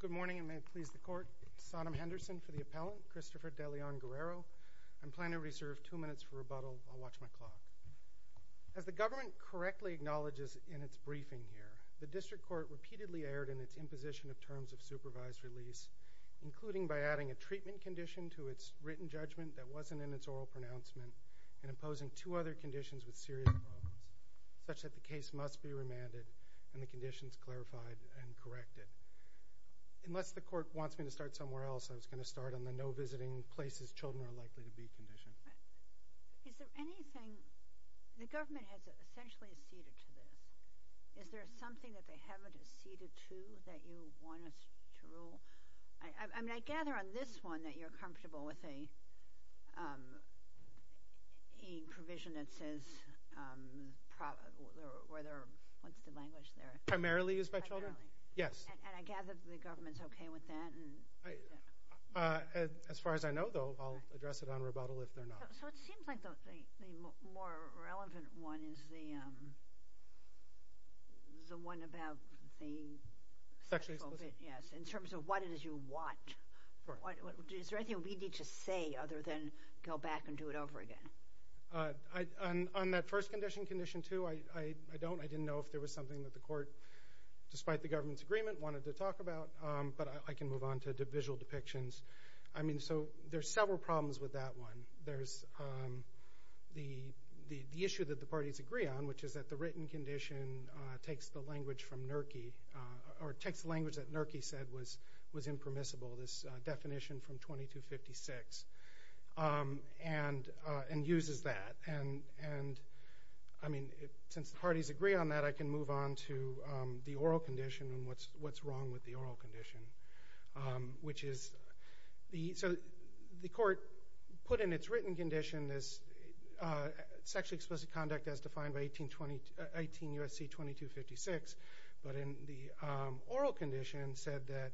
Good morning and may it please the Court. Sonam Henderson for the appellant, Christopher De Leon Guerrero. I'm planning to reserve two minutes for rebuttal. I'll watch my clock. As the government correctly acknowledges in its briefing here, the District Court repeatedly erred in its imposition of terms of supervised release, including by adding a treatment condition to its written judgment that wasn't in its oral pronouncement and imposing two other conditions with serious problems, such that the case must be remanded and the conditions clarified and corrected. Unless the Court wants me to start somewhere else, I was going to start on the no visiting places children are likely to be conditioned. Is there anything – the government has essentially acceded to this. Is there something that they haven't acceded to that you want us to rule? I mean, I gather on this one that you're comfortable with a provision that says – what's the language there? Primarily used by children? Yes. And I gather the government's okay with that? As far as I know, though, I'll address it on rebuttal if they're not. So it seems like the more relevant one is the one about the – Sexually explicit? Yes, in terms of what it is you want. Is there anything we need to say other than go back and do it over again? On that first condition, Condition 2, I don't. I didn't know if there was something that the Court, despite the government's agreement, wanted to talk about. But I can move on to the visual depictions. I mean, so there's several problems with that one. There's the issue that the parties agree on, which is that the written condition takes the language from NERCI – or takes the language that NERCI said was impermissible, this definition from 2256. And uses that. And, I mean, since the parties agree on that, I can move on to the oral condition and what's wrong with the oral condition, which is – so the Court put in its written condition this sexually explicit conduct as defined by 18 U.S.C. 2256. But in the oral condition said that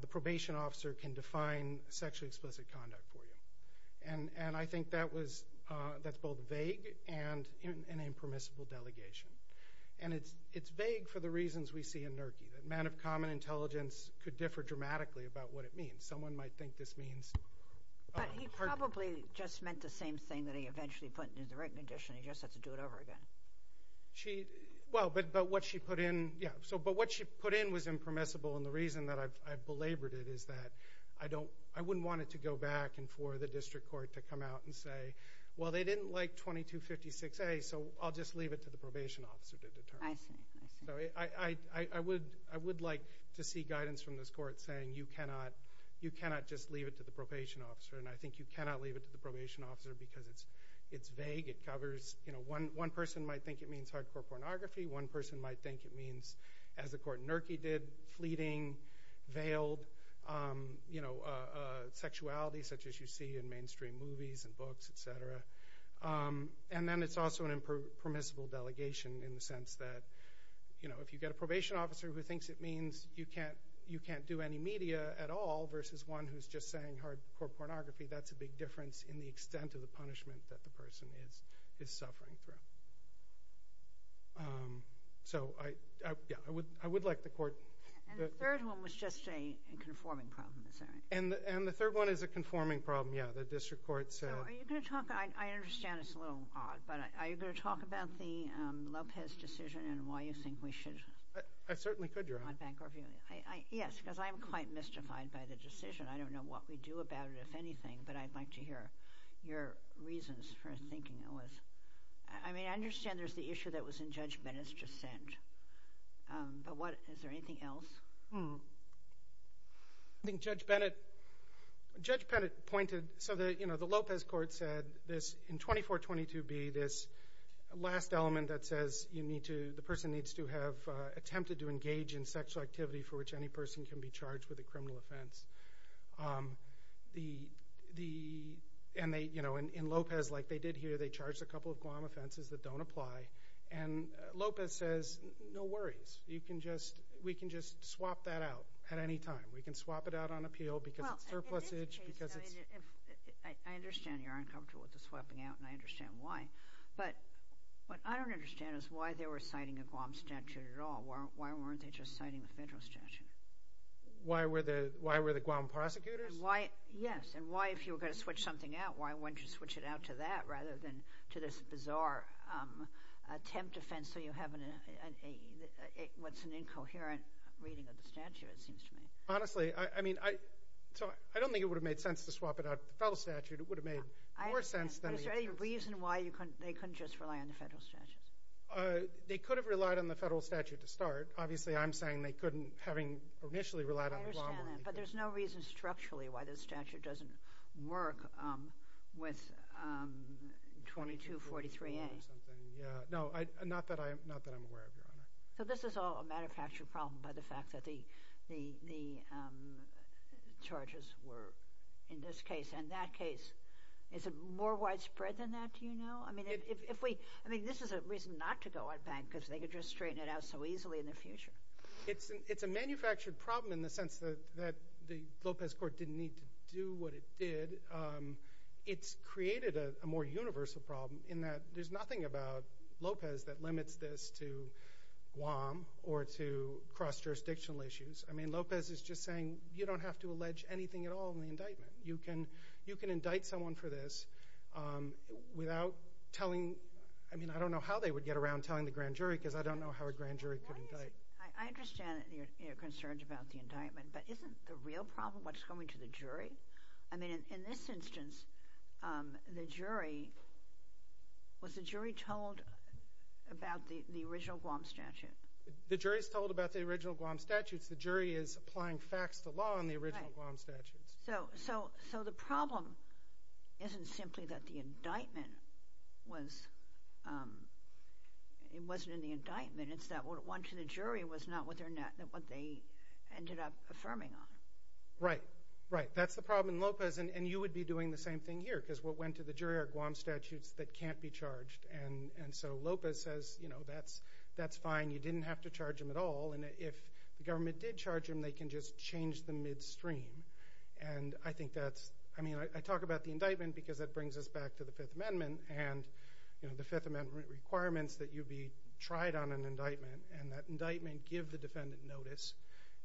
the probation officer can define sexually explicit conduct for you. And I think that was – that's both vague and an impermissible delegation. And it's vague for the reasons we see in NERCI, that men of common intelligence could differ dramatically about what it means. Someone might think this means – But he probably just meant the same thing that he eventually put in the written condition. He just had to do it over again. She – well, but what she put in – yeah. So – but what she put in was impermissible. And the reason that I've belabored it is that I don't – I wouldn't want it to go back and for the district court to come out and say, well, they didn't like 2256A, so I'll just leave it to the probation officer to determine. I see. I see. So I would like to see guidance from this Court saying you cannot – you cannot just leave it to the probation officer. And I think you cannot leave it to the probation officer because it's vague. It covers – you know, one person might think it means hardcore pornography. One person might think it means, as the court in NERCI did, fleeting, veiled, you know, sexuality, such as you see in mainstream movies and books, et cetera. And then it's also an impermissible delegation in the sense that, you know, if you get a probation officer who thinks it means you can't do any media at all versus one who's just saying hardcore pornography, that's a big difference in the extent of the punishment that the person is suffering through. So I – yeah, I would like the Court – And the third one was just a conforming problem, is that right? And the third one is a conforming problem, yeah. The district court said – So are you going to talk – I understand it's a little odd, but are you going to talk about the Lopez decision and why you think we should – I certainly could, Your Honor. Yes, because I'm quite mystified by the decision. I don't know what we do about it, if anything, but I'd like to hear your reasons for thinking it was – I mean, I understand there's the issue that was in Judge Bennett's dissent, but what – is there anything else? I think Judge Bennett pointed – so, you know, the Lopez court said this in 2422B, this last element that says you need to – the person needs to have attempted to engage in sexual activity for which any person can be charged with a criminal offense. And they – you know, in Lopez, like they did here, they charged a couple of Guam offenses that don't apply. And Lopez says, no worries. You can just – we can just swap that out at any time. We can swap it out on appeal because it's surplusage, because it's – I understand you're uncomfortable with the swapping out, and I understand why. But what I don't understand is why they were citing a Guam statute at all. Why weren't they just citing the federal statute? Why were the – why were the Guam prosecutors? Why – yes. And why, if you were going to switch something out, why wouldn't you switch it out to that rather than to this bizarre attempt offense so you have an – what's an incoherent reading of the statute, it seems to me. Honestly, I mean, I – so I don't think it would have made sense to swap it out at the federal statute. It would have made more sense than the – Is there any reason why you couldn't – they couldn't just rely on the federal statutes? They could have relied on the federal statute to start. Obviously, I'm saying they couldn't, having initially relied on the Guam one. I understand that, but there's no reason structurally why the statute doesn't work with 2243A. Yeah. No, not that I'm aware of, Your Honor. So this is all a manufacturing problem by the fact that the charges were in this case. In that case, is it more widespread than that, do you know? I mean, if we – I mean, this is a reason not to go on bank because they could just straighten it out so easily in the future. It's a manufactured problem in the sense that the Lopez Court didn't need to do what it did. It's created a more universal problem in that there's nothing about Lopez that limits this to Guam or to cross-jurisdictional issues. I mean, Lopez is just saying you don't have to allege anything at all in the indictment. You can indict someone for this without telling – I mean, I don't know how they would get around telling the grand jury because I don't know how a grand jury could indict. I understand that you're concerned about the indictment, but isn't the real problem what's going to the jury? I mean, in this instance, the jury – was the jury told about the original Guam statute? The jury is told about the original Guam statutes. The jury is applying facts to law on the original Guam statutes. So the problem isn't simply that the indictment was – it wasn't in the indictment. It's that what went to the jury was not what they ended up affirming on. Right, right. That's the problem in Lopez, and you would be doing the same thing here because what went to the jury are Guam statutes that can't be charged. And so Lopez says, you know, that's fine. You didn't have to charge them at all. And if the government did charge them, they can just change the midstream. And I think that's – I mean, I talk about the indictment because that brings us back to the Fifth Amendment and the Fifth Amendment requirements that you be tried on an indictment and that indictment give the defendant notice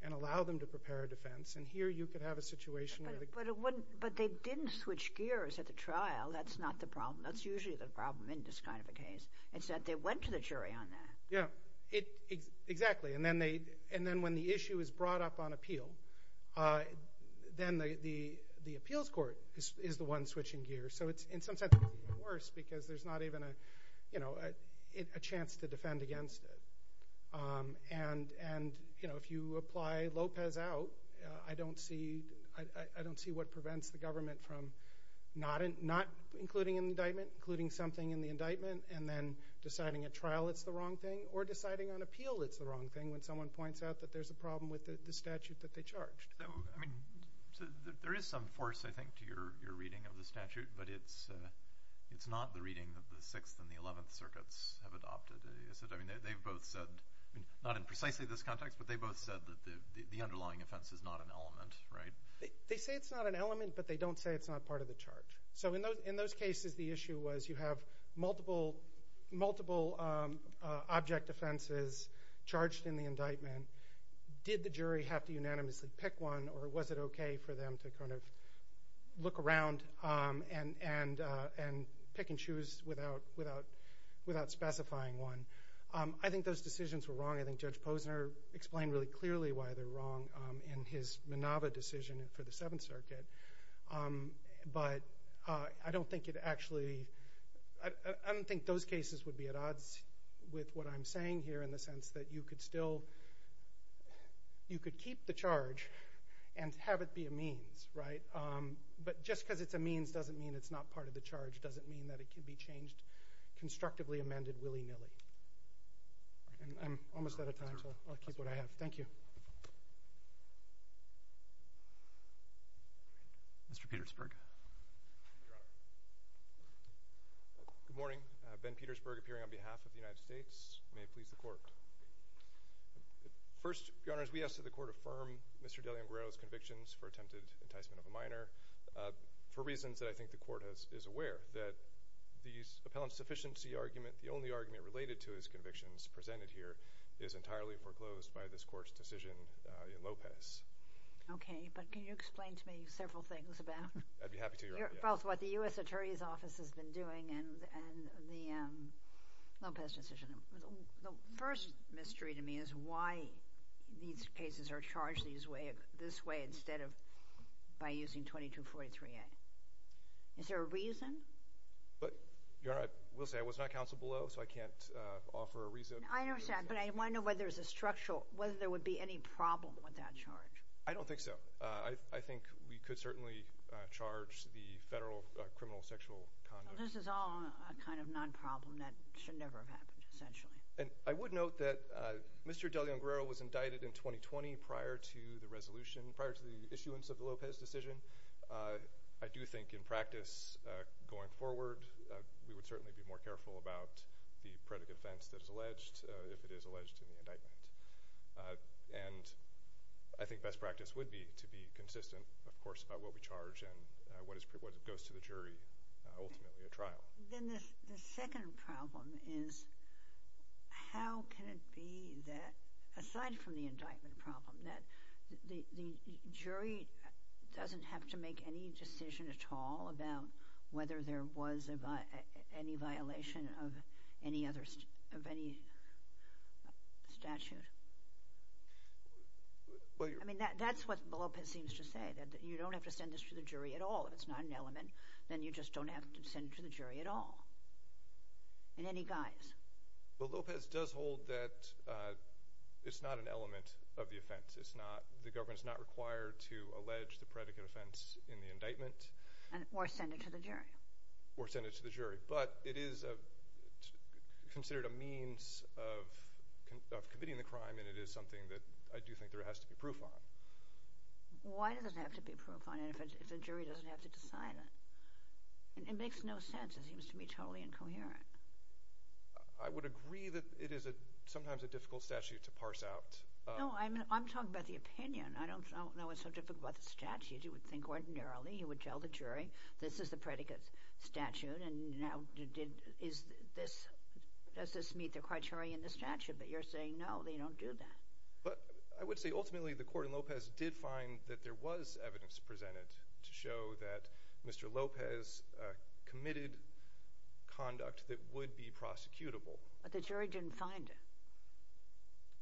and allow them to prepare a defense. And here you could have a situation where the – But they didn't switch gears at the trial. That's not the problem. That's usually the problem in this kind of a case. It's that they went to the jury on that. Yeah, exactly. And then when the issue is brought up on appeal, then the appeals court is the one switching gears. So it's, in some sense, worse because there's not even a chance to defend against it. And, you know, if you apply Lopez out, I don't see what prevents the government from not including an indictment, including something in the indictment, and then deciding at trial it's the wrong thing or deciding on appeal it's the wrong thing when someone points out that there's a problem with the statute that they charged. I mean, there is some force, I think, to your reading of the statute, but it's not the reading that the Sixth and the Eleventh Circuits have adopted, is it? I mean, they've both said – not in precisely this context, but they've both said that the underlying offense is not an element, right? They say it's not an element, but they don't say it's not part of the charge. So in those cases, the issue was you have multiple object offenses charged in the indictment. Did the jury have to unanimously pick one, or was it okay for them to kind of look around and pick and choose without specifying one? I think those decisions were wrong. I think Judge Posner explained really clearly why they're wrong in his Minava decision for the Seventh Circuit. But I don't think it actually – I don't think those cases would be at odds with what I'm saying here in the sense that you could still – you could keep the charge and have it be a means, right? But just because it's a means doesn't mean it's not part of the charge, doesn't mean that it can be changed constructively, amended willy-nilly. I'm almost out of time, so I'll keep what I have. Thank you. Mr. Petersburg. Good morning. Ben Petersburg, appearing on behalf of the United States. May it please the Court. First, Your Honors, we ask that the Court affirm Mr. Delian-Guerrero's convictions for attempted enticement of a minor for reasons that I think the Court is aware, that the appellant's sufficiency argument, the only argument related to his convictions presented here, is entirely foreclosed by this Court's decision in Lopez. Okay. But can you explain to me several things about – I'd be happy to, Your Honor. Both what the U.S. Attorney's Office has been doing and the Lopez decision. The first mystery to me is why these cases are charged this way instead of by using 2243A. Is there a reason? Your Honor, I will say I was not counseled below, so I can't offer a reason. I understand. But I want to know whether there's a structural – whether there would be any problem with that charge. I don't think so. I think we could certainly charge the federal criminal sexual conduct. This is all a kind of non-problem that should never have happened, essentially. And I would note that Mr. Delian-Guerrero was indicted in 2020 prior to the resolution, prior to the issuance of the Lopez decision. I do think in practice, going forward, we would certainly be more careful about the predicate offense that is alleged if it is alleged in the indictment. And I think best practice would be to be consistent, of course, about what we charge and what goes to the jury ultimately at trial. Then the second problem is how can it be that, aside from the indictment problem, that the jury doesn't have to make any decision at all about whether there was any violation of any other – of any statute? I mean, that's what Lopez seems to say, that you don't have to send this to the jury at all. If it's not an element, then you just don't have to send it to the jury at all in any guise. Well, Lopez does hold that it's not an element of the offense. It's not – the government is not required to allege the predicate offense in the indictment. Or send it to the jury. Or send it to the jury. But it is considered a means of committing the crime, and it is something that I do think there has to be proof on. Why does it have to be proof on if the jury doesn't have to decide it? It makes no sense. It seems to me totally incoherent. I would agree that it is sometimes a difficult statute to parse out. No, I'm talking about the opinion. I don't know what's so difficult about the statute. You would think ordinarily you would tell the jury this is the predicate statute, and now is this – does this meet the criteria in the statute? But you're saying no, they don't do that. But I would say ultimately the court in Lopez did find that there was evidence presented to show that Mr. Lopez committed conduct that would be prosecutable. But the jury didn't find it.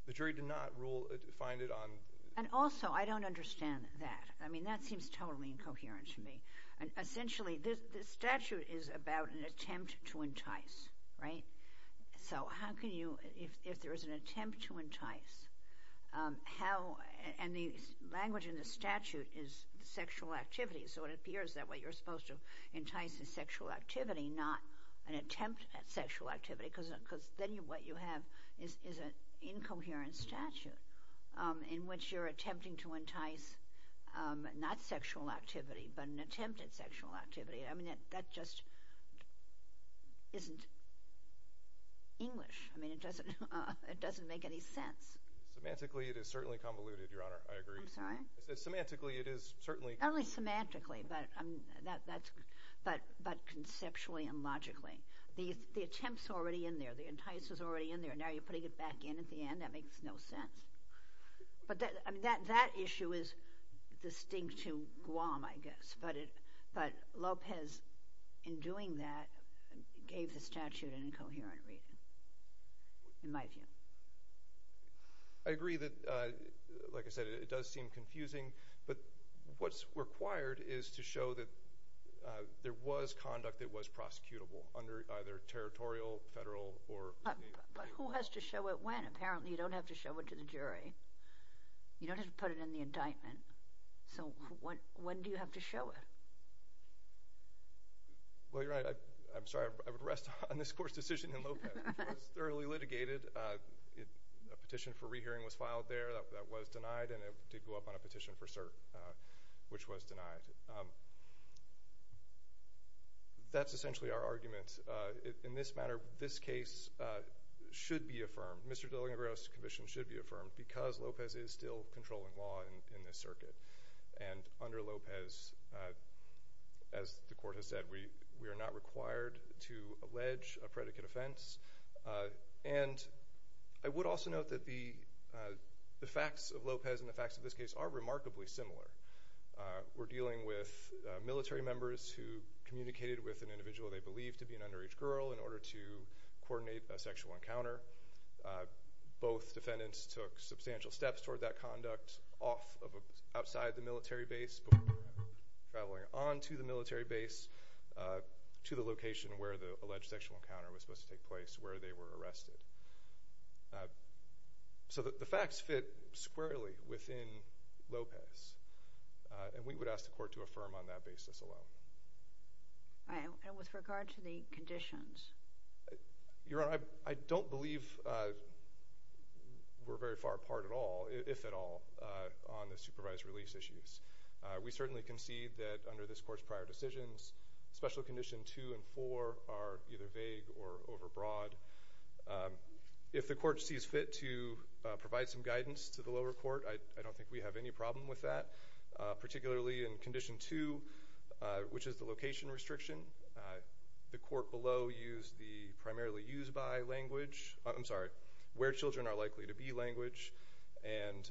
The jury did not rule – find it on – And also, I don't understand that. I mean, that seems totally incoherent to me. Essentially, this statute is about an attempt to entice, right? So how can you – if there is an attempt to entice, how – and the language in the statute is sexual activity, so it appears that what you're supposed to entice is sexual activity, not an attempt at sexual activity, because then what you have is an incoherent statute in which you're attempting to entice not sexual activity, but an attempt at sexual activity. I mean, that just isn't English. I mean, it doesn't make any sense. Semantically, it is certainly convoluted, Your Honor. I agree. I'm sorry? I said semantically it is certainly – Not only semantically, but conceptually and logically. The attempt's already in there. The entice is already in there. Now you're putting it back in at the end. That makes no sense. But that issue is distinct to Guam, I guess. But Lopez, in doing that, gave the statute an incoherent reading in my view. I agree that, like I said, it does seem confusing. But what's required is to show that there was conduct that was prosecutable under either territorial, federal, or – But who has to show it when? Apparently you don't have to show it to the jury. You don't have to put it in the indictment. So when do you have to show it? Well, Your Honor, I'm sorry. I would rest on this court's decision in Lopez. It was thoroughly litigated. A petition for rehearing was filed there that was denied, and it did go up on a petition for cert, which was denied. That's essentially our argument. In this matter, this case should be affirmed. Mr. Dillinger-Gross's conviction should be affirmed because Lopez is still controlling law in this circuit. Under Lopez, as the court has said, we are not required to allege a predicate offense. And I would also note that the facts of Lopez and the facts of this case are remarkably similar. We're dealing with military members who communicated with an individual they believed to be an underage girl in order to coordinate a sexual encounter. Both defendants took substantial steps toward that conduct outside the military base before traveling onto the military base to the location where the alleged sexual encounter was supposed to take place, where they were arrested. So the facts fit squarely within Lopez, and we would ask the court to affirm on that basis alone. And with regard to the conditions? Your Honor, I don't believe we're very far apart at all, if at all, on the supervised release issues. We certainly concede that under this court's prior decisions, Special Condition 2 and 4 are either vague or overbroad. If the court sees fit to provide some guidance to the lower court, I don't think we have any problem with that, particularly in Condition 2, which is the location restriction. The court below used the primarily used by language – I'm sorry, where children are likely to be language, and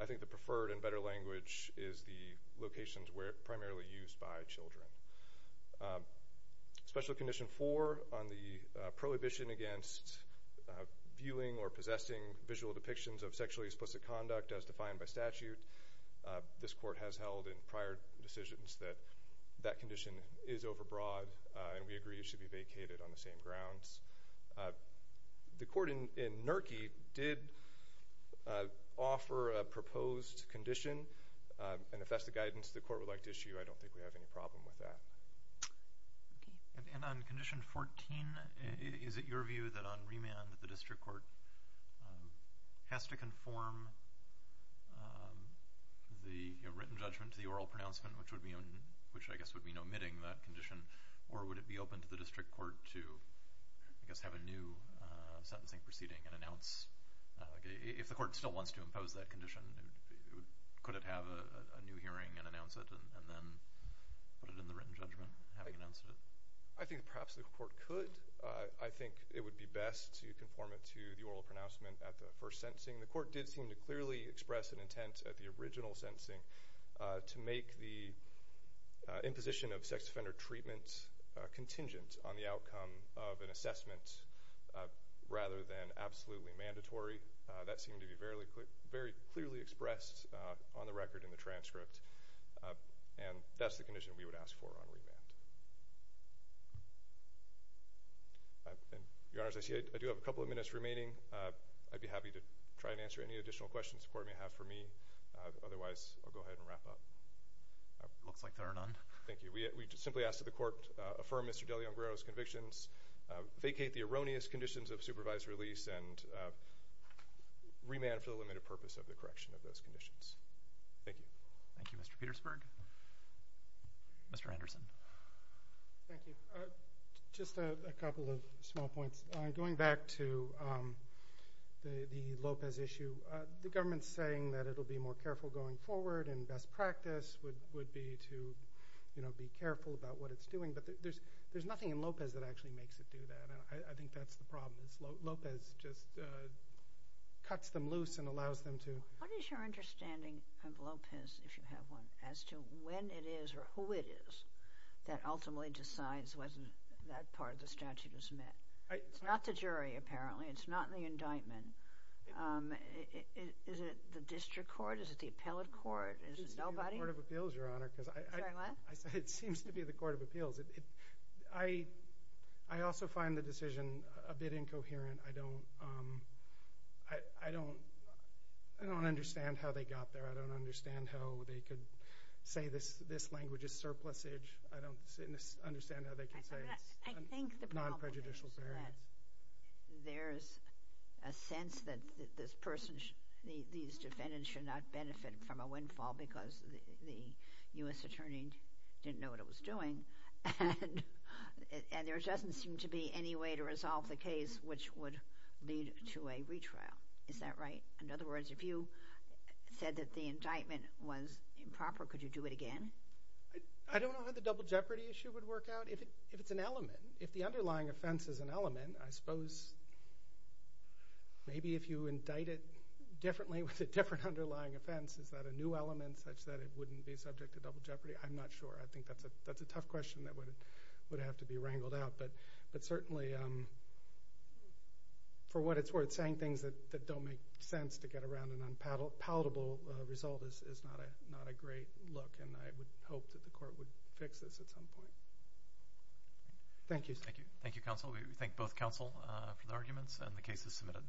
I think the preferred and better language is the locations where it's primarily used by children. Special Condition 4, on the prohibition against viewing or possessing visual depictions of sexually explicit conduct as defined by statute, this court has held in prior decisions that that condition is overbroad, and we agree it should be vacated on the same grounds. The court in Nurkey did offer a proposed condition, and if that's the guidance the court would like to issue, I don't think we have any problem with that. And on Condition 14, is it your view that on remand, the district court has to conform the written judgment to the oral pronouncement, which I guess would mean omitting that condition, or would it be open to the district court to, I guess, have a new sentencing proceeding and announce? If the court still wants to impose that condition, could it have a new hearing and announce it and then put it in the written judgment, having announced it? I think perhaps the court could. I think it would be best to conform it to the oral pronouncement at the first sentencing. The court did seem to clearly express an intent at the original sentencing to make the imposition of sex offender treatment contingent on the outcome of an assessment rather than absolutely mandatory. That seemed to be very clearly expressed on the record in the transcript, and that's the condition we would ask for on remand. Your Honors, I see I do have a couple of minutes remaining. I'd be happy to try and answer any additional questions the court may have for me. Otherwise, I'll go ahead and wrap up. It looks like there are none. Thank you. We simply ask that the court affirm Mr. De Leon-Guerrero's convictions, vacate the erroneous conditions of supervised release, and remand for the limited purpose of the correction of those conditions. Thank you. Thank you, Mr. Petersburg. Mr. Anderson. Thank you. Just a couple of small points. Going back to the Lopez issue, the government is saying that it will be more careful going forward, and best practice would be to be careful about what it's doing, but there's nothing in Lopez that actually makes it do that. I think that's the problem. Lopez just cuts them loose and allows them to. What is your understanding of Lopez, if you have one, as to when it is or who it is that ultimately decides when that part of the statute is met? It's not the jury, apparently. It's not the indictment. Is it the district court? Is it the appellate court? Is it nobody? It's the Court of Appeals, Your Honor. Sorry, what? It seems to be the Court of Appeals. I also find the decision a bit incoherent. I don't understand how they got there. I don't understand how they could say this language is surplusage. I don't understand how they could say it's non-prejudicial. I think the problem is that there's a sense that these defendants should not benefit from a windfall because the U.S. attorney didn't know what it was doing, and there doesn't seem to be any way to resolve the case which would lead to a retrial. Is that right? In other words, if you said that the indictment was improper, could you do it again? I don't know how the double jeopardy issue would work out. If it's an element, if the underlying offense is an element, I suppose maybe if you indict it differently with a different underlying offense, is that a new element such that it wouldn't be subject to double jeopardy? I'm not sure. I think that's a tough question that would have to be wrangled out, but certainly for what it's worth, saying things that don't make sense to get around an unpalatable result is not a great look, and I would hope that the court would fix this at some point. Thank you. Thank you, counsel. We thank both counsel for the arguments, and the case is submitted.